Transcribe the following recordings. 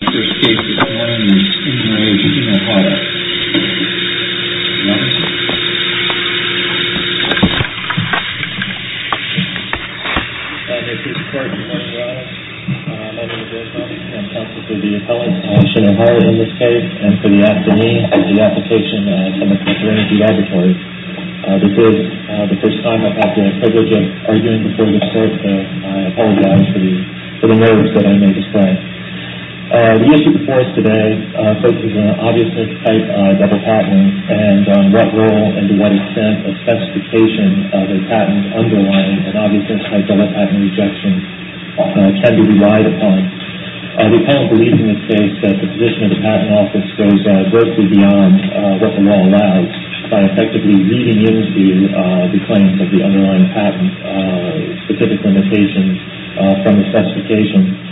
The first case this morning is in the range of Shinohara. Your Honor. This is a court of martial law. My name is Bill Thompson. I'm counsel for the appellant, Shinohara, in this case, and for the attorney of the application, Attorney for Trinity Laboratories. This is the first time I've had the privilege of arguing before this court, so I apologize for the nerves that I may display. The issue before us today focuses on an obviously tight double patent, and on what role and to what extent a specification of a patent underlying an obviously tight double patent rejection can be relied upon. The appellant believes in this case that the position of the patent office goes grossly beyond what the law allows, by effectively reading into the claims of the underlying patent specific limitations from the specification.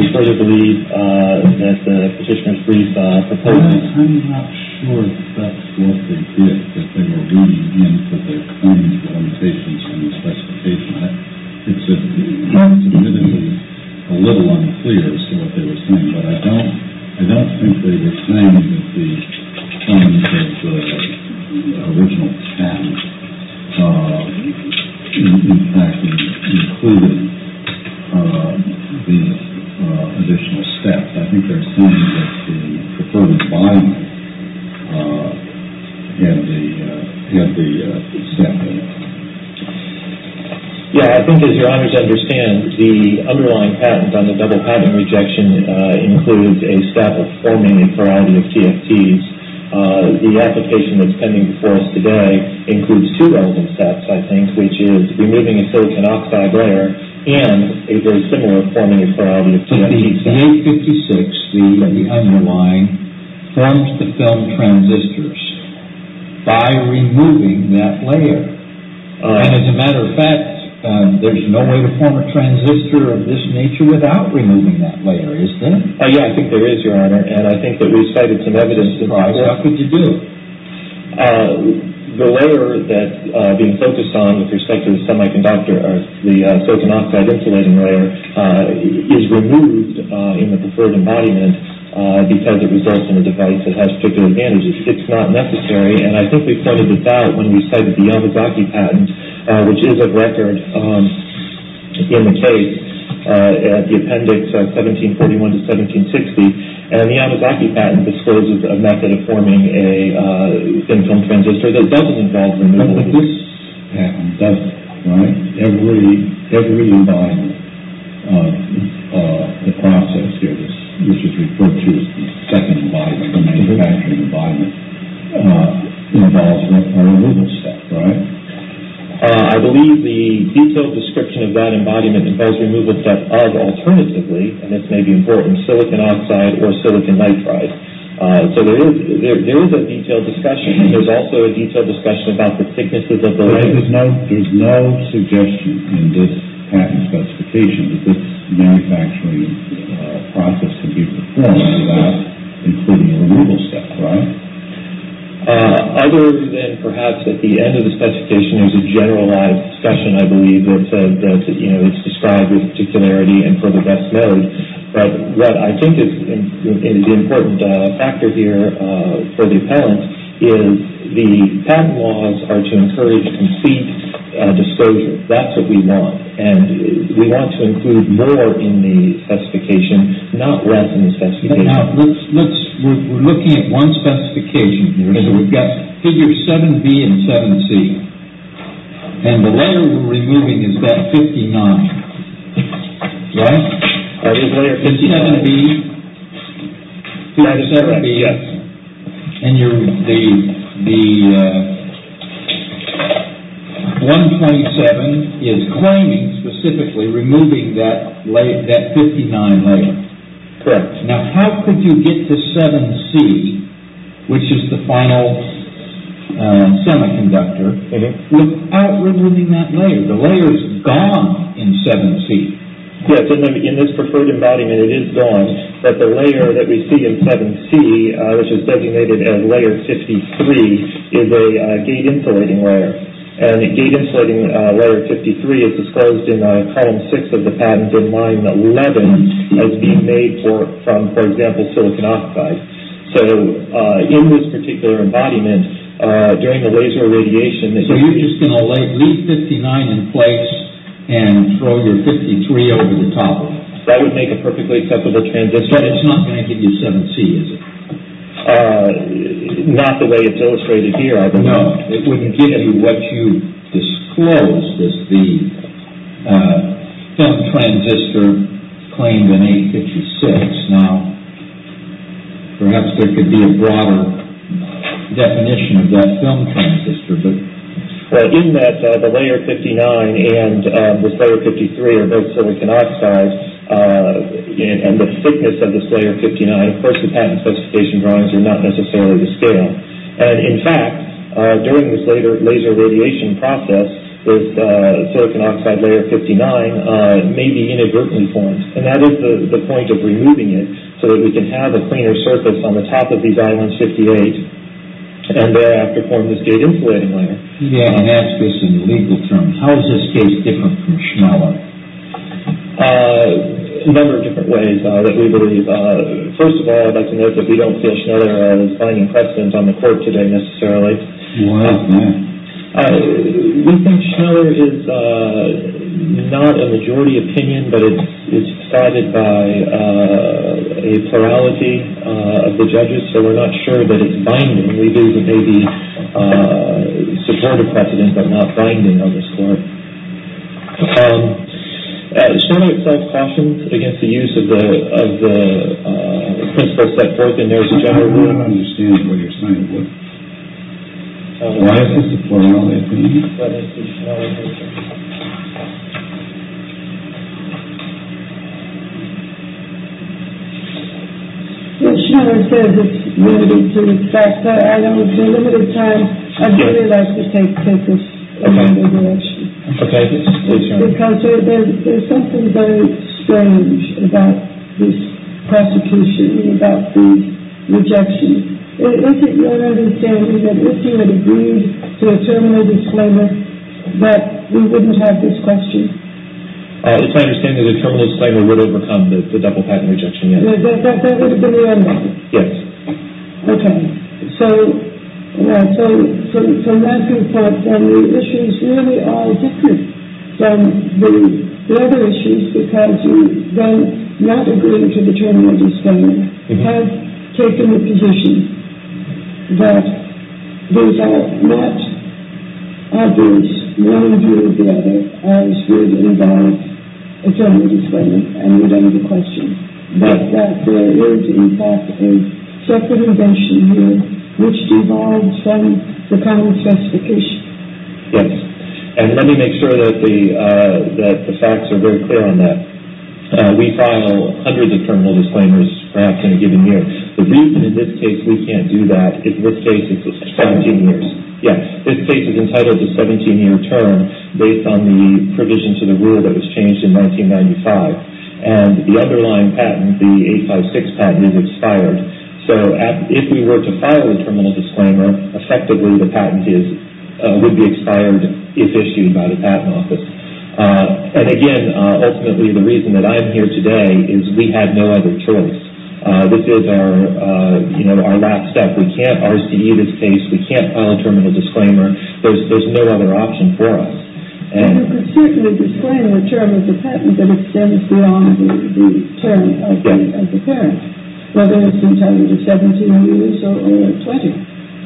We further believe that the petitioner's brief proposes... I'm not sure that's what they did, that they were reading into the claims limitations from the specification. It's a little unclear as to what they were saying, but I don't think they were saying that the terms of the original patent in fact included the additional steps. I think they're saying that the preferred environment had the step in it. Yeah, I think it's your honor to understand, the underlying patent on the double patent rejection includes a step of forming a plurality of TFTs. The application that's pending before us today includes two relevant steps, I think, which is removing a silicon oxide layer and a very similar forming a plurality of TFTs. In 856, the underlying forms the film transistors by removing that layer. And as a matter of fact, there's no way to form a transistor of this nature without removing that layer, is there? Yeah, I think there is, your honor, and I think that we've cited some evidence that... Why? What could you do? The layer that's being focused on with respect to the semiconductor, the silicon oxide insulating layer, is removed in the preferred embodiment because it results in a device that has particular advantages. It's not necessary, and I think we pointed this out when we cited the Yamazaki patent, which is a record in the case, at the appendix 1741 to 1760. And the Yamazaki patent discloses a method of forming a thin film transistor that doesn't involve removal. But this patent does, right? Every embodiment of the process here, which is referred to as the second embodiment, the manufacturing embodiment, involves a removal step, right? I believe the detailed description of that embodiment involves removal step of, alternatively, and this may be important, silicon oxide or silicon nitride. So there is a detailed discussion. There's also a detailed discussion about the thicknesses of the layer. There's no suggestion in this patent specification that this manufacturing process can be performed without including a removal step, right? Other than perhaps at the end of the specification, there's a generalized discussion, I believe, that it's described with particularity and for the best note. But what I think is the important factor here for the appellant is the patent laws are to encourage complete disclosure. That's what we want. not less in the specification. We're looking at one specification here. We've got figure 7B and 7C, and the layer we're removing is that 59, right? Figure 7B? Figure 7B, yes. And the 1.7 is claiming, specifically, removing that 59 layer. Correct. Now, how could you get to 7C, which is the final semiconductor, without removing that layer? The layer is gone in 7C. Yes, in this preferred embodiment, it is gone. But the layer that we see in 7C, which is designated as layer 53, is a gate insulating layer. And gate insulating layer 53 is disclosed in column 6 of the patent and in line 11 has been made from, for example, silicon oxide. So in this particular embodiment, during the laser irradiation So you're just going to leave 59 in place and throw your 53 over the top of it? That would make a perfectly acceptable transistor. But it's not going to give you 7C, is it? Not the way it's illustrated here. No, it wouldn't give you what you disclose. The film transistor claimed in 856. Now, perhaps there could be a broader definition of that film transistor. Well, in that the layer 59 and this layer 53 are both silicon oxide, and the thickness of this layer 59, of course the patent specification drawings are not necessarily the scale. And, in fact, during this later laser radiation process, this silicon oxide layer 59 may be inadvertently formed. And that is the point of removing it, so that we can have a cleaner surface on the top of these I-158 and thereafter form this gate insulating layer. Yeah, and ask this in legal terms. How is this gate different from Schneller? A number of different ways that we believe. First of all, I'd like to note that we don't feel Schneller is finding precedence on the court today necessarily. Wow. We think Schneller is not a majority opinion, but it's cited by a plurality of the judges, so we're not sure that it's binding. We believe it may be supportive precedence, but not binding on this court. Schneller itself cautions against the use of the principle set forth in NERSC generally. I don't understand what you're saying. Why is this a plurality opinion? Well, Schneller says it's limited to the fact that I don't have limited time. I'd really like to take this in a new direction. Okay. Because there's something very strange about this prosecution, about these rejections. Is it your understanding that if you had agreed to a terminal disclaimer that we wouldn't have this question? It's my understanding that a terminal disclaimer would overcome the double patent rejection, yes. That would have been the end of it? Yes. Okay. So, from that viewpoint, then the issues really are different than the other issues, because you then, not agreeing to the terminal disclaimer, have taken the position that these are not obvious, one view of the other, as would involve a terminal disclaimer, and we don't have a question. But that there is, in fact, a second invention here, which devolves from the patent specification. Yes. And let me make sure that the facts are very clear on that. We file hundreds of terminal disclaimers, perhaps in a given year. The reason in this case we can't do that is this case is 17 years. Yes. This case is entitled to a 17-year term based on the provision to the rule that was changed in 1995. And the underlying patent, the 856 patent, is expired. So, if we were to file a terminal disclaimer, effectively the patent would be expired if issued by the Patent Office. And, again, ultimately the reason that I'm here today is we had no other choice. This is our last step. We can't RCE this case. We can't file a terminal disclaimer. There's no other option for us. But you could certainly disclaim the term of the patent that extends beyond the term of the parent, whether it's entitled to 17 years or 20.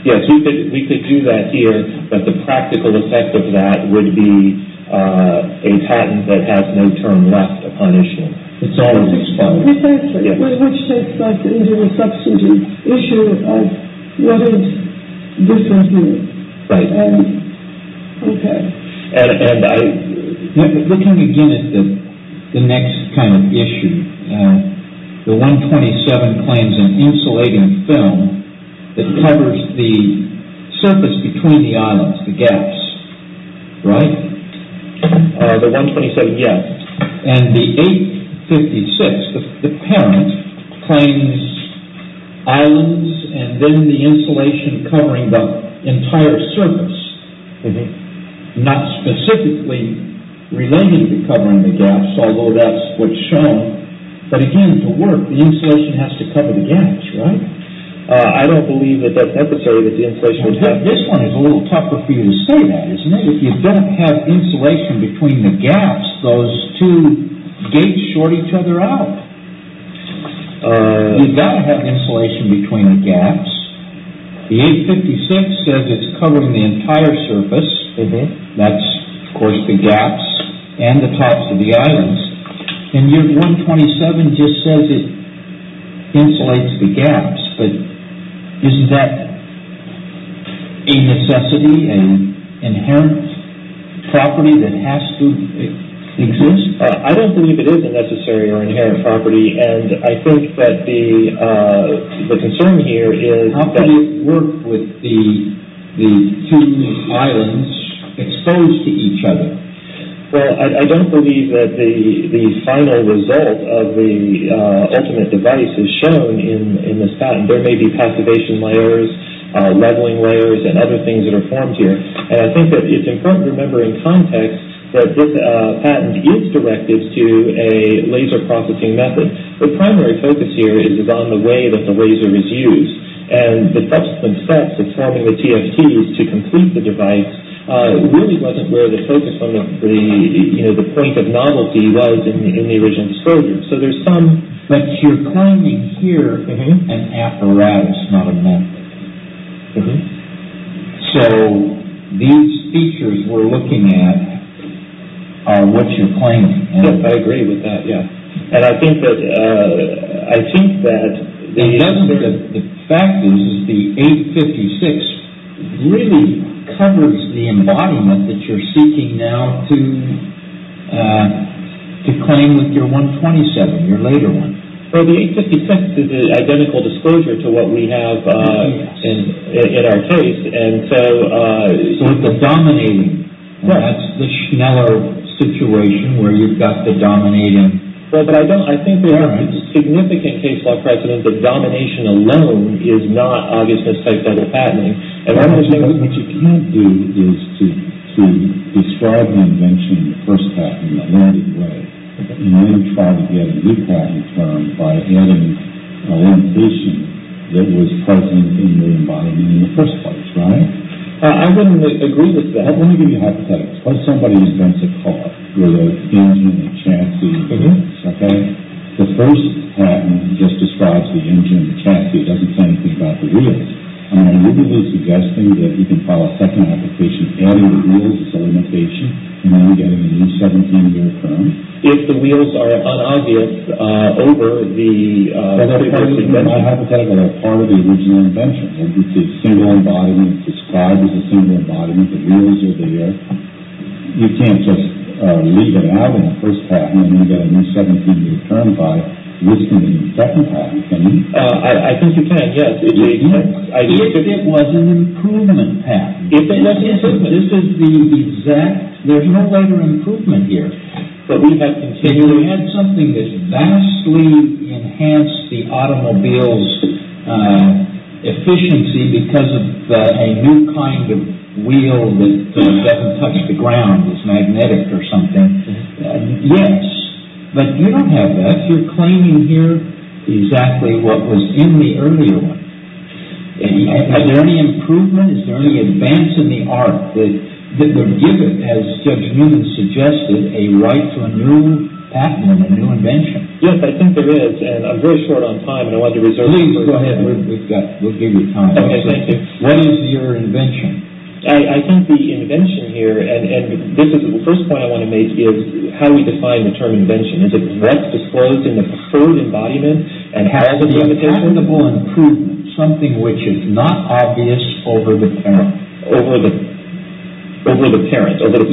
Yes, we could do that here, but the practical effect of that would be a patent that has no term left upon issue. It's always expired. Exactly, which takes us into the substantive issue of what is discontinued. Right. Okay. And looking again at the next kind of issue, the 127 claims an insulating film that covers the surface between the islands, the gaps, right? The 127, yes. And the 856, the parent, claims islands and then the insulation covering the entire surface, not specifically related to covering the gaps, although that's what's shown. But, again, to work, the insulation has to cover the gaps, right? I don't believe that that's necessary that the insulation would have. This one is a little tougher for you to say that, isn't it? But if you don't have insulation between the gaps, those two gates short each other out. You've got to have insulation between the gaps. The 856 says it's covering the entire surface. That's, of course, the gaps and the tops of the islands. And your 127 just says it insulates the gaps, but isn't that a necessity, an inherent property that has to exist? I don't believe it is a necessary or inherent property, and I think that the concern here is that... How can you work with the two islands exposed to each other? Well, I don't believe that the final result of the ultimate device is shown in this patent. There may be passivation layers, leveling layers, and other things that are formed here. And I think that it's important to remember in context that this patent is directed to a laser processing method. The primary focus here is on the way that the laser is used. And the subsequent steps of forming the TFTs to complete the device really wasn't where the focus, the point of novelty was in the original disclosure. So there's some... But you're claiming here an apparatus, not a method. So these features we're looking at are what you're claiming. Yes, I agree with that, yes. And I think that... The fact is the 856 really covers the embodiment that you're seeking now to claim with your 127, your later one. Well, the 856 is an identical disclosure to what we have in our case, and so... So it's a dominating. That's the Schneller situation where you've got the dominating. Well, but I don't... I think we have a significant case law precedent that domination alone is not Augustus type dental patenting. What you can do is to describe the invention of the first patent in a narrative way, and then try to get a new patent term by adding a limitation that was present in the embodiment in the first place, right? I wouldn't agree with that. Let me give you a hypothetical. Suppose somebody invents a car with an engine and a chassis, okay? The first patent just describes the engine and the chassis. It doesn't say anything about the wheels. Wouldn't it be suggesting that you can file a second application adding the wheels as a limitation, and then getting a new 17-year term? If the wheels are unobvious over the... My hypothetical is part of the original invention. The single embodiment describes the single embodiment. The wheels are there. You can't just leave it out in the first patent and then get a new 17-year term by listing it in the second patent, can you? I think you can, yes. But it was an improvement patent. This is the exact... There's no greater improvement here. We had something that vastly enhanced the automobile's efficiency because of a new kind of wheel that doesn't touch the ground. It's magnetic or something. Yes, but you don't have that. You're claiming here exactly what was in the earlier one. Is there any improvement? Is there any advance in the art that would give it, as Judge Newman suggested, a right to a new patent or a new invention? Yes, I think there is. I'm very short on time, and I wanted to reserve... Please, go ahead. We'll give you time. Okay, thank you. What is your invention? I think the invention here, and this is the first point I want to make, is how we define the term invention. Is it what's disclosed in the preferred embodiment? And has it been implemented? A reasonable improvement. Something which is not obvious over the parent. Over the parent. Over the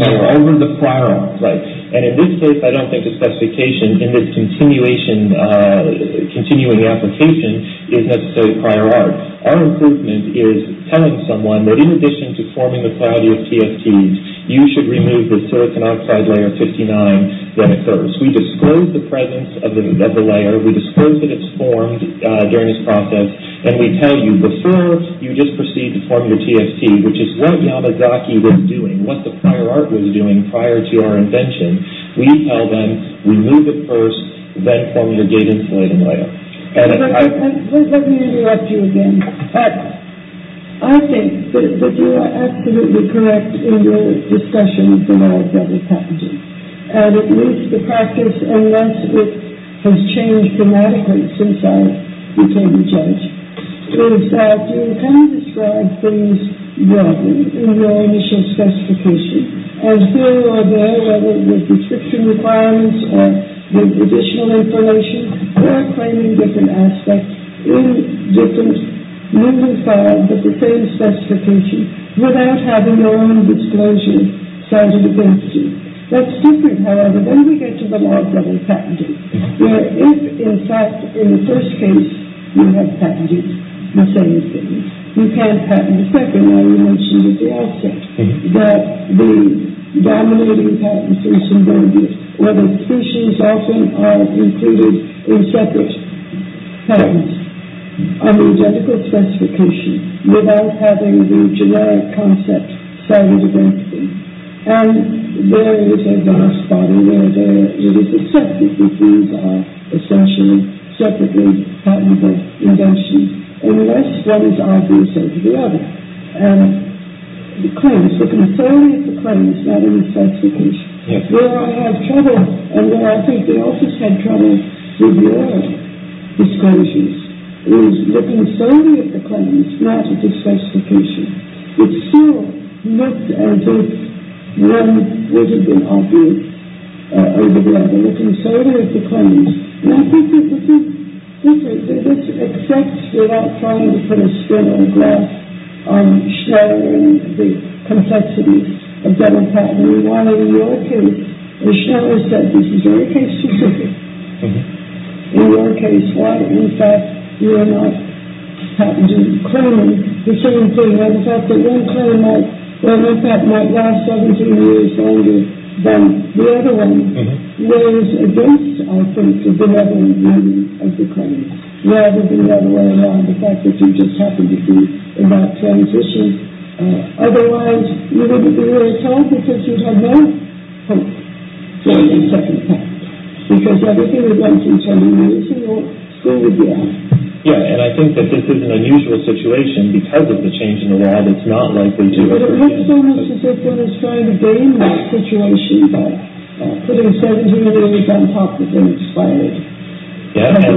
prior art. Right. And in this case, I don't think the specification in this continuing application is necessarily prior art. Our improvement is telling someone that in addition to forming the priority of TFTs, you should remove the silicon oxide layer 59 that occurs. We disclose the presence of the layer. We disclose that it's formed during this process, and we tell you before you just proceed to form your TFT, which is what Yamazaki was doing, what the prior art was doing prior to our invention. We tell them, remove it first, then form your gate-insulating layer. Let me interrupt you again. I think that you are absolutely correct in your discussion of the law of double packaging. And it needs to practice, and that's what has changed dramatically since I became a judge, is that you kind of describe things broadly in your initial specification. And here or there, whether it was restriction requirements or additional information, you are claiming different aspects in different, moving forward with the same specification, without having your own disclosure side of the game to do. That's different, however. Then we get to the law of double patenting, where if, in fact, in the first case you have patented the same thing, you can't patent a second one. You mentioned at the outset that the dominating patents are symbiotic, where the exclusions often are included in separate patents on the identical specification, without having the generic concept side of the game to do. And there is a dark spot where it is accepted that these are essentially separately patented inventions, unless one is obviouser to the other. And the claims, the concerning of the claims, not of the specification, where I have trouble, and where I think they also have trouble with your disclosures, is the concerning of the claims, not of the specification. It's still looked as if one was an obviouser to the other. Looking further at the claims, I think that this accepts without trying to put a spin on the glass, on shattering the complexities of double patenting. Why, in your case, as Schneller said, this is very case specific. In your case, why, in fact, you are not patenting the claim, the same thing, in fact, that one claim might last 17 years longer than the other one. It weighs against, I think, the level of meaning of the claims, rather than the fact that you just happen to be in that transition. Otherwise, you wouldn't be where it's held because you have no hope for a second patent, because everything you've done since 1992 will still be there. Yeah, and I think that this is an unusual situation, because of the change in the law, that's not likely to occur. But it represents as if one is trying to gain that situation by putting 17 years on top of the expiry. Yeah, and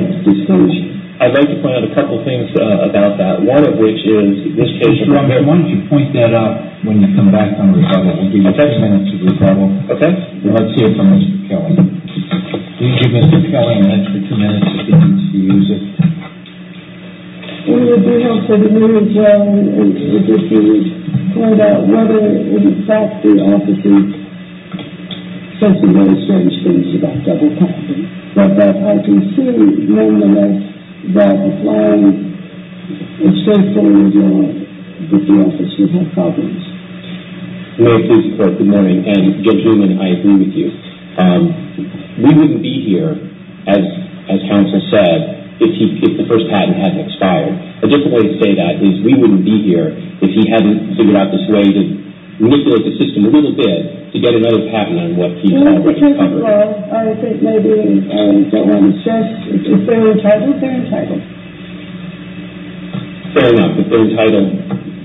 I'd like to point out a couple of things about that, one of which is this case. Why don't you point that out when you come back from rebuttal. We'll give you two minutes for rebuttal. Okay. And let's hear from Mr. Kelly. Thank you, Mr. Kelly. I'd like for two minutes to begin to use it. We would be helpful to hear as well if you could point out whether, in fact, the office is saying some very strange things about double patent. But I can see, nonetheless, that applying the same thing with the office would have problems. Good morning. I agree with you. We wouldn't be here, as counsel said, if the first patent hadn't expired. Just a way to say that is we wouldn't be here if he hadn't figured out this way to manipulate the system a little bit to get another patent on what he thought would be covered. Well, that's because of law. I think maybe they're entitled. Fair enough. If they're entitled,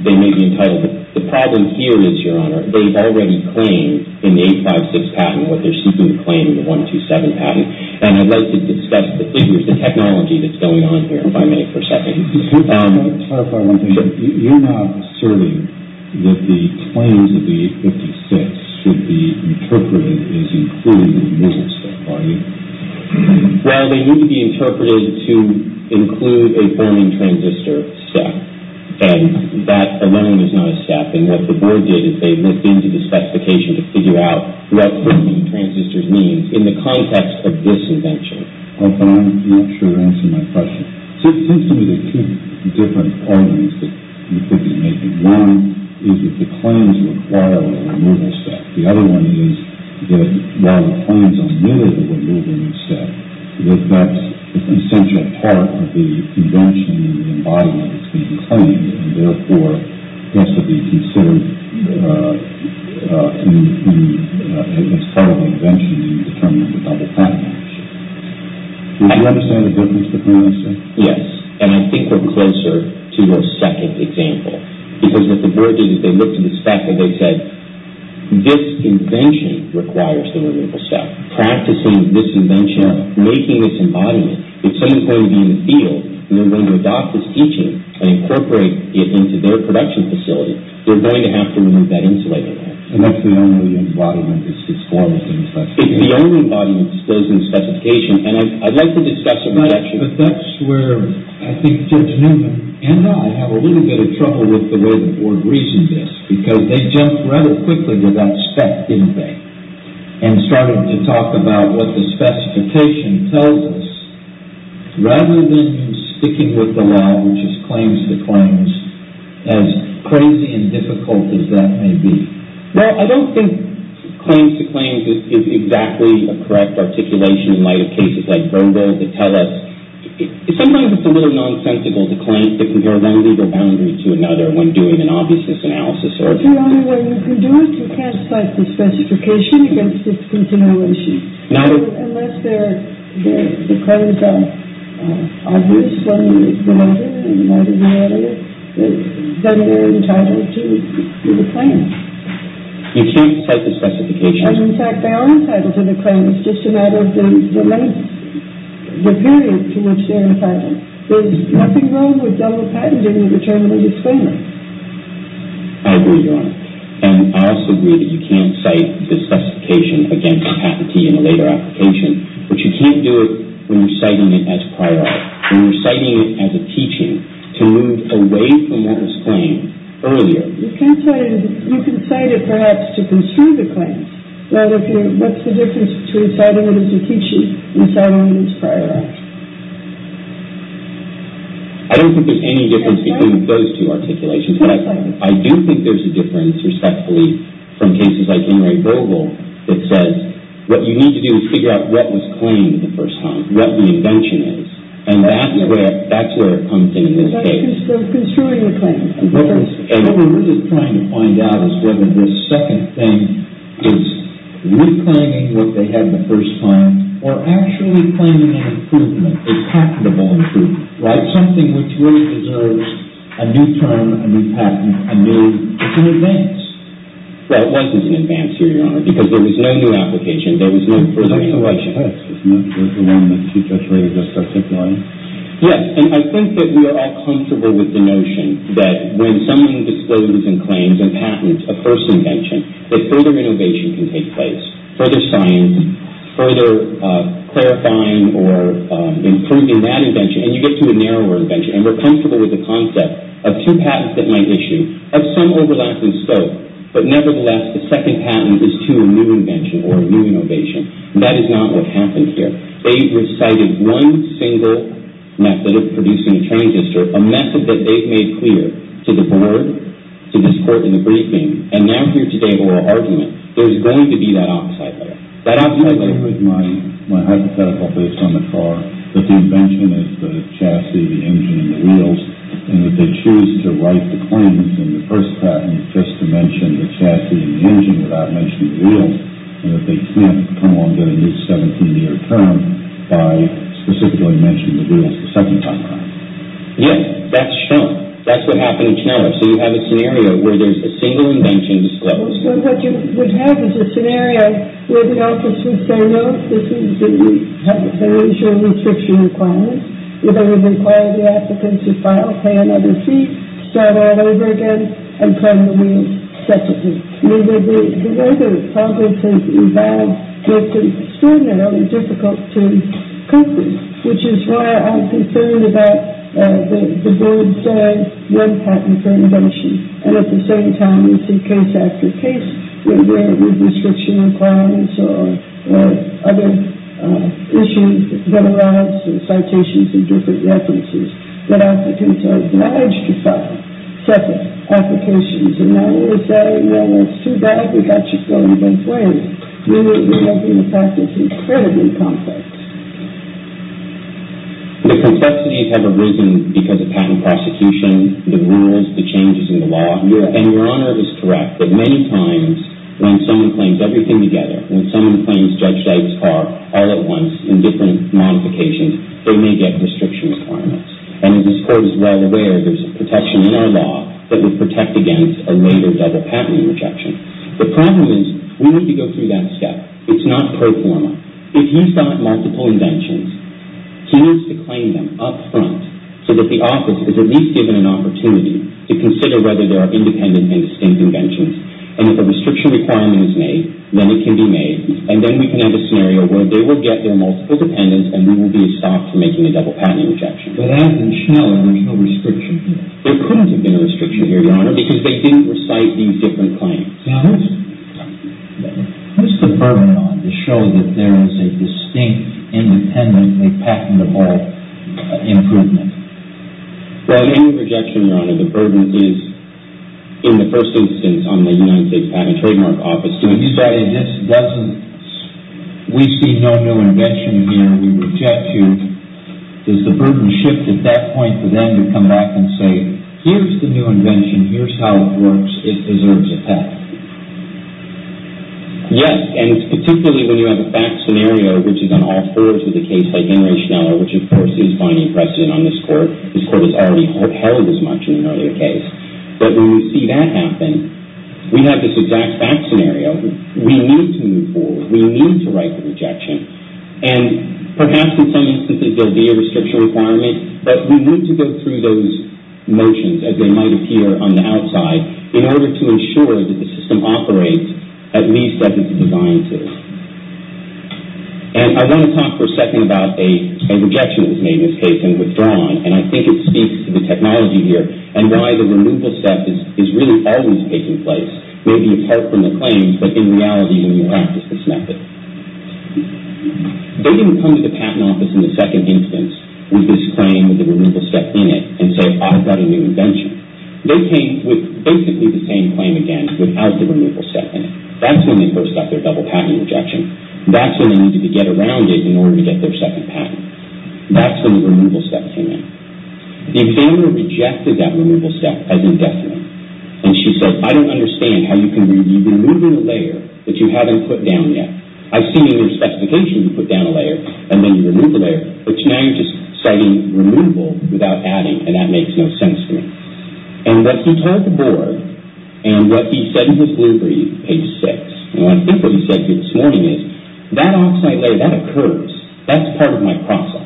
they may be entitled. The problem here is, Your Honor, they've already claimed in the 856 patent what they're seeking to claim in the 127 patent. And I'd like to discuss the figures, the technology that's going on here, if I may, for a second. Can I clarify one thing? Sure. You're not asserting that the claims of the 856 should be interpreted as including a digital step, are you? Well, they need to be interpreted to include a forming transistor step. And that alone is not a step. And what the board did is they looked into the specification to figure out what forming transistors means in the context of this invention. I'm not sure you're answering my question. It seems to me there are two different arguments that you could be making. One is that the claims require a removal step. The other one is that while the claims are limited to a removal step, that that's an essential part of the invention and the embodiment of these claims, and therefore has to be considered as part of the invention in determining the double patent action. Would you understand the difference between the two? Yes. And I think we're closer to your second example. Because what the board did is they looked at the spec and they said, this invention requires the removal step. Practicing this invention, making this embodiment, if someone's going to be in the field and they're going to adopt this teaching and incorporate it into their production facility, they're going to have to remove that insulator. And that's the only embodiment that's disclosed in the specification. It's the only embodiment disclosed in the specification. And I'd like to discuss a projection. But that's where I think Judge Newman and I have a little bit of trouble with the way the board reasoned this. Because they jumped rather quickly to that spec, didn't they? And started to talk about what the specification tells us, rather than sticking with the law, which is claims to claims, as crazy and difficult as that may be. Well, I don't think claims to claims is exactly a correct articulation in light of cases like Verbo to tell us. Sometimes it's a little nonsensical to claim to compare one legal boundary to another when doing an obviousness analysis. It's the only way you can do it. You can't cite the specification against this continuation. Unless the claims are obvious, whether it's the mother or the mother-in-law, then they're entitled to the claim. You can't cite the specification. In fact, they are entitled to the claim. It's just a matter of the length, the period to which they're entitled. There's nothing wrong with double patenting in return for the disclaimer. I agree, Your Honor. And I also agree that you can't cite the specification against patentee in a later application. But you can't do it when you're citing it as prior art, when you're citing it as a teaching to move away from what was claimed earlier. You can cite it, perhaps, to construe the claim. What's the difference between citing it as a teaching and citing it as prior art? I don't think there's any difference between those two articulations. I do think there's a difference, respectfully, from cases like Anne-Marie Vogel that says, what you need to do is figure out what was claimed the first time, what the invention is. And that's where it comes in. The invention is still construing the claim. What we're really trying to find out is whether this second thing is reclaiming what they had the first time or actually claiming an improvement, a patentable improvement, something which really deserves a new term, a new patent, a new advance. Well, it wasn't an advance here, Your Honor, because there was no new application. There was no presentation. Yes, and I think that we are all comfortable with the notion that when someone discloses and claims a patent, a first invention, that further innovation can take place, further science, further clarifying or improving that invention, and you get to a narrower invention. And we're comfortable with the concept of two patents that might issue of some overlapping scope, but nevertheless the second patent is to a new invention or a new innovation. That is not what happened here. They've recited one single method of producing a transistor, a method that they've made clear to the board, to this court in the briefing, and now here today in oral argument, there's going to be that opposite later. That opposite later. I agree with my hypothetical based on the car, that the invention is the chassis, the engine, and the wheels, and that they choose to write the claims in the first patent just to mention the chassis and the engine without mentioning the wheels, and that they can't come along and get a new 17-year term by specifically mentioning the wheels the second time around. Yes, that's shown. That's what happened in Canada. So you have a scenario where there's a single invention disclosed. Well, so what you would have is a scenario where the office would say, no, this is the initial restriction requirements. They would require the applicant to file, pay another fee, start all over again, and claim the wheels separately. The way the process has evolved makes it extraordinarily difficult to complete, which is why I'm concerned about the board saying one patent for an invention, and at the same time we see case after case where there are restriction requirements or other issues that arise in citations and different references. The applicants are obliged to file separate applications, and now we're saying, well, it's too bad. We've got you going both ways. Really, we're talking about something incredibly complex. The complexities have arisen because of patent prosecution, the rules, the changes in the law, and Your Honor is correct that many times when someone claims everything together, when someone claims Judge Dyke's car all at once in different modifications, they may get restriction requirements. And as this Court is well aware, there's a protection in our law that would protect against a later double patent rejection. The problem is we need to go through that step. It's not pro forma. If he's got multiple inventions, he needs to claim them up front so that the office is at least given an opportunity to consider whether there are independent and distinct inventions. And if a restriction requirement is made, then it can be made, and then we can have a scenario where they will get their multiple dependents and we will be stopped from making a double patent rejection. But as in Schneller, there's no restriction here. There couldn't have been a restriction here, Your Honor, because they didn't recite these different claims. Now, what's the burden on to show that there is a distinct, independently patentable improvement? Well, any rejection, Your Honor, the burden is in the first instance on the United States Patent and Trademark Office. When you say this doesn't, we see no new invention here, we reject you, does the burden shift at that point to then you come back and say, here's the new invention, here's how it works, it deserves a patent? Yes, and particularly when you have a fact scenario, which is on all thirds of the case, like Henry Schneller, which of course is binding precedent on this court. This court has already held as much in an earlier case. But when you see that happen, we have this exact fact scenario. We need to move forward. We need to write the rejection. And perhaps in some instances there will be a restriction requirement, but we need to go through those motions as they might appear on the outside in order to ensure that the system operates at least as it's designed to. And I want to talk for a second about a rejection that was made in this case and withdrawn, and I think it speaks to the technology here and why the removal step is really always taking place, maybe apart from the claims, but in reality when you practice this method. They didn't come to the patent office in the second instance with this claim with the removal step in it and say, I've got a new invention. They came with basically the same claim again without the removal step in it. That's when they first got their double patent rejection. That's when they needed to get around it in order to get their second patent. That's when the removal step came in. The examiner rejected that removal step as indefinite, and she said, I don't understand how you can remove a layer that you haven't put down yet. I've seen in your specification you put down a layer and then you remove the layer, but now you're just citing removal without adding, and that makes no sense to me. And what he told the board and what he said in his blueprint, page 6, and I think what he said here this morning is, that oxide layer, that occurs. That's part of my process.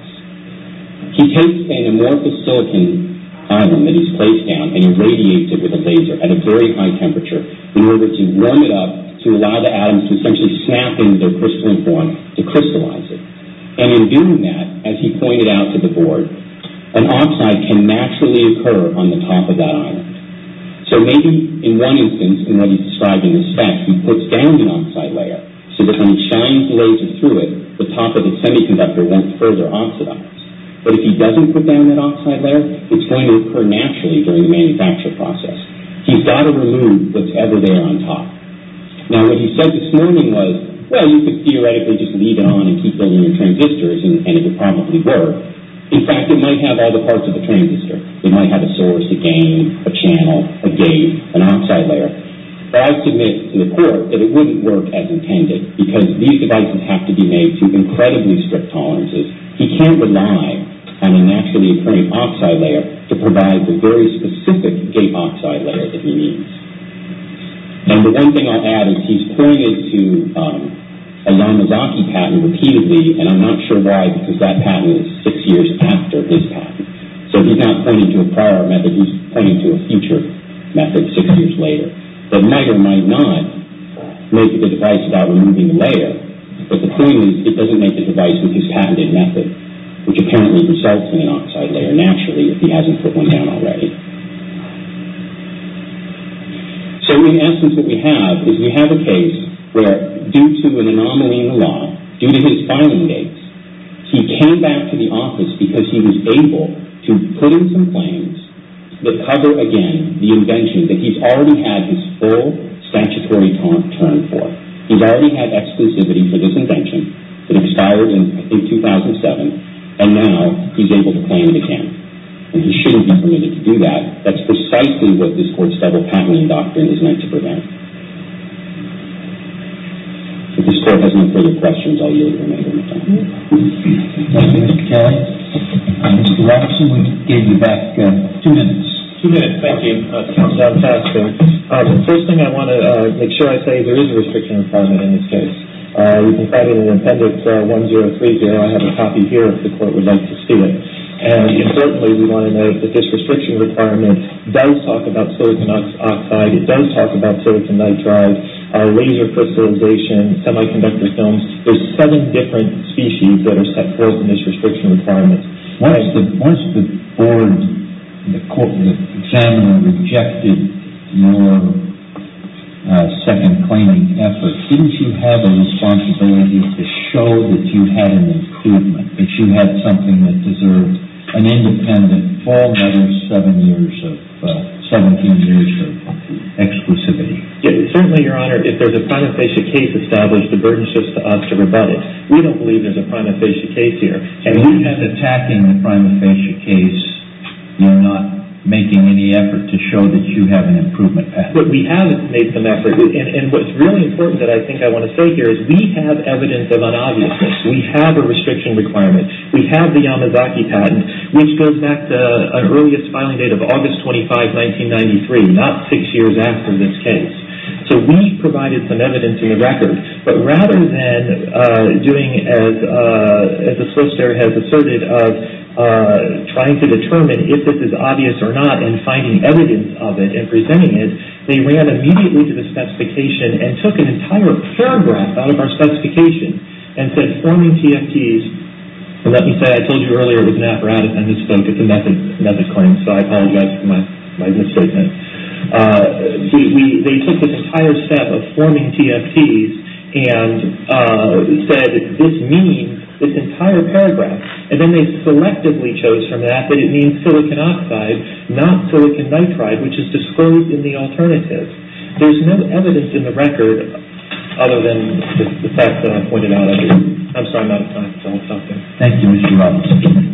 He takes an amorphous silicon ion that he's placed down and irradiates it with a laser at a very high temperature in order to warm it up to allow the atoms to essentially snap into their crystalline form to crystallize it. And in doing that, as he pointed out to the board, an oxide can naturally occur on the top of that ion. So maybe in one instance, in what he described in this fact, he puts down an oxide layer so that when he shines the laser through it, the top of the semiconductor won't further oxidize. But if he doesn't put down that oxide layer, it's going to occur naturally during the manufacturing process. He's got to remove what's ever there on top. Now, what he said this morning was, well, you could theoretically just leave it on and keep building transistors, and it would probably work. In fact, it might have all the parts of the transistor. It might have a source, a gain, a channel, a gate, an oxide layer. But I submit to the court that it wouldn't work as intended because these devices have to be made to incredibly strict tolerances. He can't rely on a naturally occurring oxide layer to provide the very specific gate oxide layer that he needs. And the one thing I'll add is he's pointed to a Yamazaki patent repeatedly, and I'm not sure why because that patent is six years after his patent. So he's not pointing to a prior method. He's pointing to a future method six years later. The miter might not make the device without removing the layer, but the point is it doesn't make the device with his patented method, which apparently results in an oxide layer naturally if he hasn't put one down already. So in essence what we have is we have a case where, due to an anomaly in the law, due to his filing dates, he came back to the office because he was able to put in some claims that cover, again, the invention that he's already had his full statutory term for. He's already had exclusivity for this invention. It expired in, I think, 2007, and now he's able to claim it again. And he shouldn't be permitted to do that. That's precisely what this court's federal patenting doctrine is meant to prevent. If this court has no further questions, I'll yield the remainder of my time. Thank you, Mr. Kelly. Mr. Watson, we'll give you back two minutes. Two minutes. Thank you. First thing I want to make sure I say, there is a restriction requirement in this case. You can find it in Appendix 1030. I have a copy here if the court would like to see it. And certainly we want to note that this restriction requirement does talk about silicon oxide. It does talk about silicon nitride, laser crystallization, semiconductor films. There's seven different species that are set forth in this restriction requirement. Once the board, the court, the examiner rejected your second-claiming effort, didn't you have a responsibility to show that you had an improvement, that you had something that deserved an independent, all-matters, 17 years of exclusivity? Certainly, Your Honor. If there's a prima facie case established, the burden is just to us to rebut it. We don't believe there's a prima facie case here. You have attacking the prima facie case. You're not making any effort to show that you have an improvement patent. But we have made some effort. And what's really important that I think I want to say here is we have evidence of unobviousness. We have a restriction requirement. We have the Yamazaki patent, which goes back to an earliest filing date of August 25, 1993, not six years after this case. So we provided some evidence in the record. But rather than doing, as the solicitor has asserted, of trying to determine if this is obvious or not and finding evidence of it and presenting it, they ran immediately to the specification and took an entire paragraph out of our specification and said, forming TFTs, and let me say, I told you earlier it was an apparatus, I misspoke, it's a method claim, so I apologize for my misstatement. They took this entire step of forming TFTs and said this means this entire paragraph. And then they selectively chose from that that it means silicon oxide, not silicon nitride, which is disclosed in the alternative. There's no evidence in the record other than the fact that I pointed out earlier. I'm sorry, I'm out of time. Tell me something. Thank you, Mr. Roberts.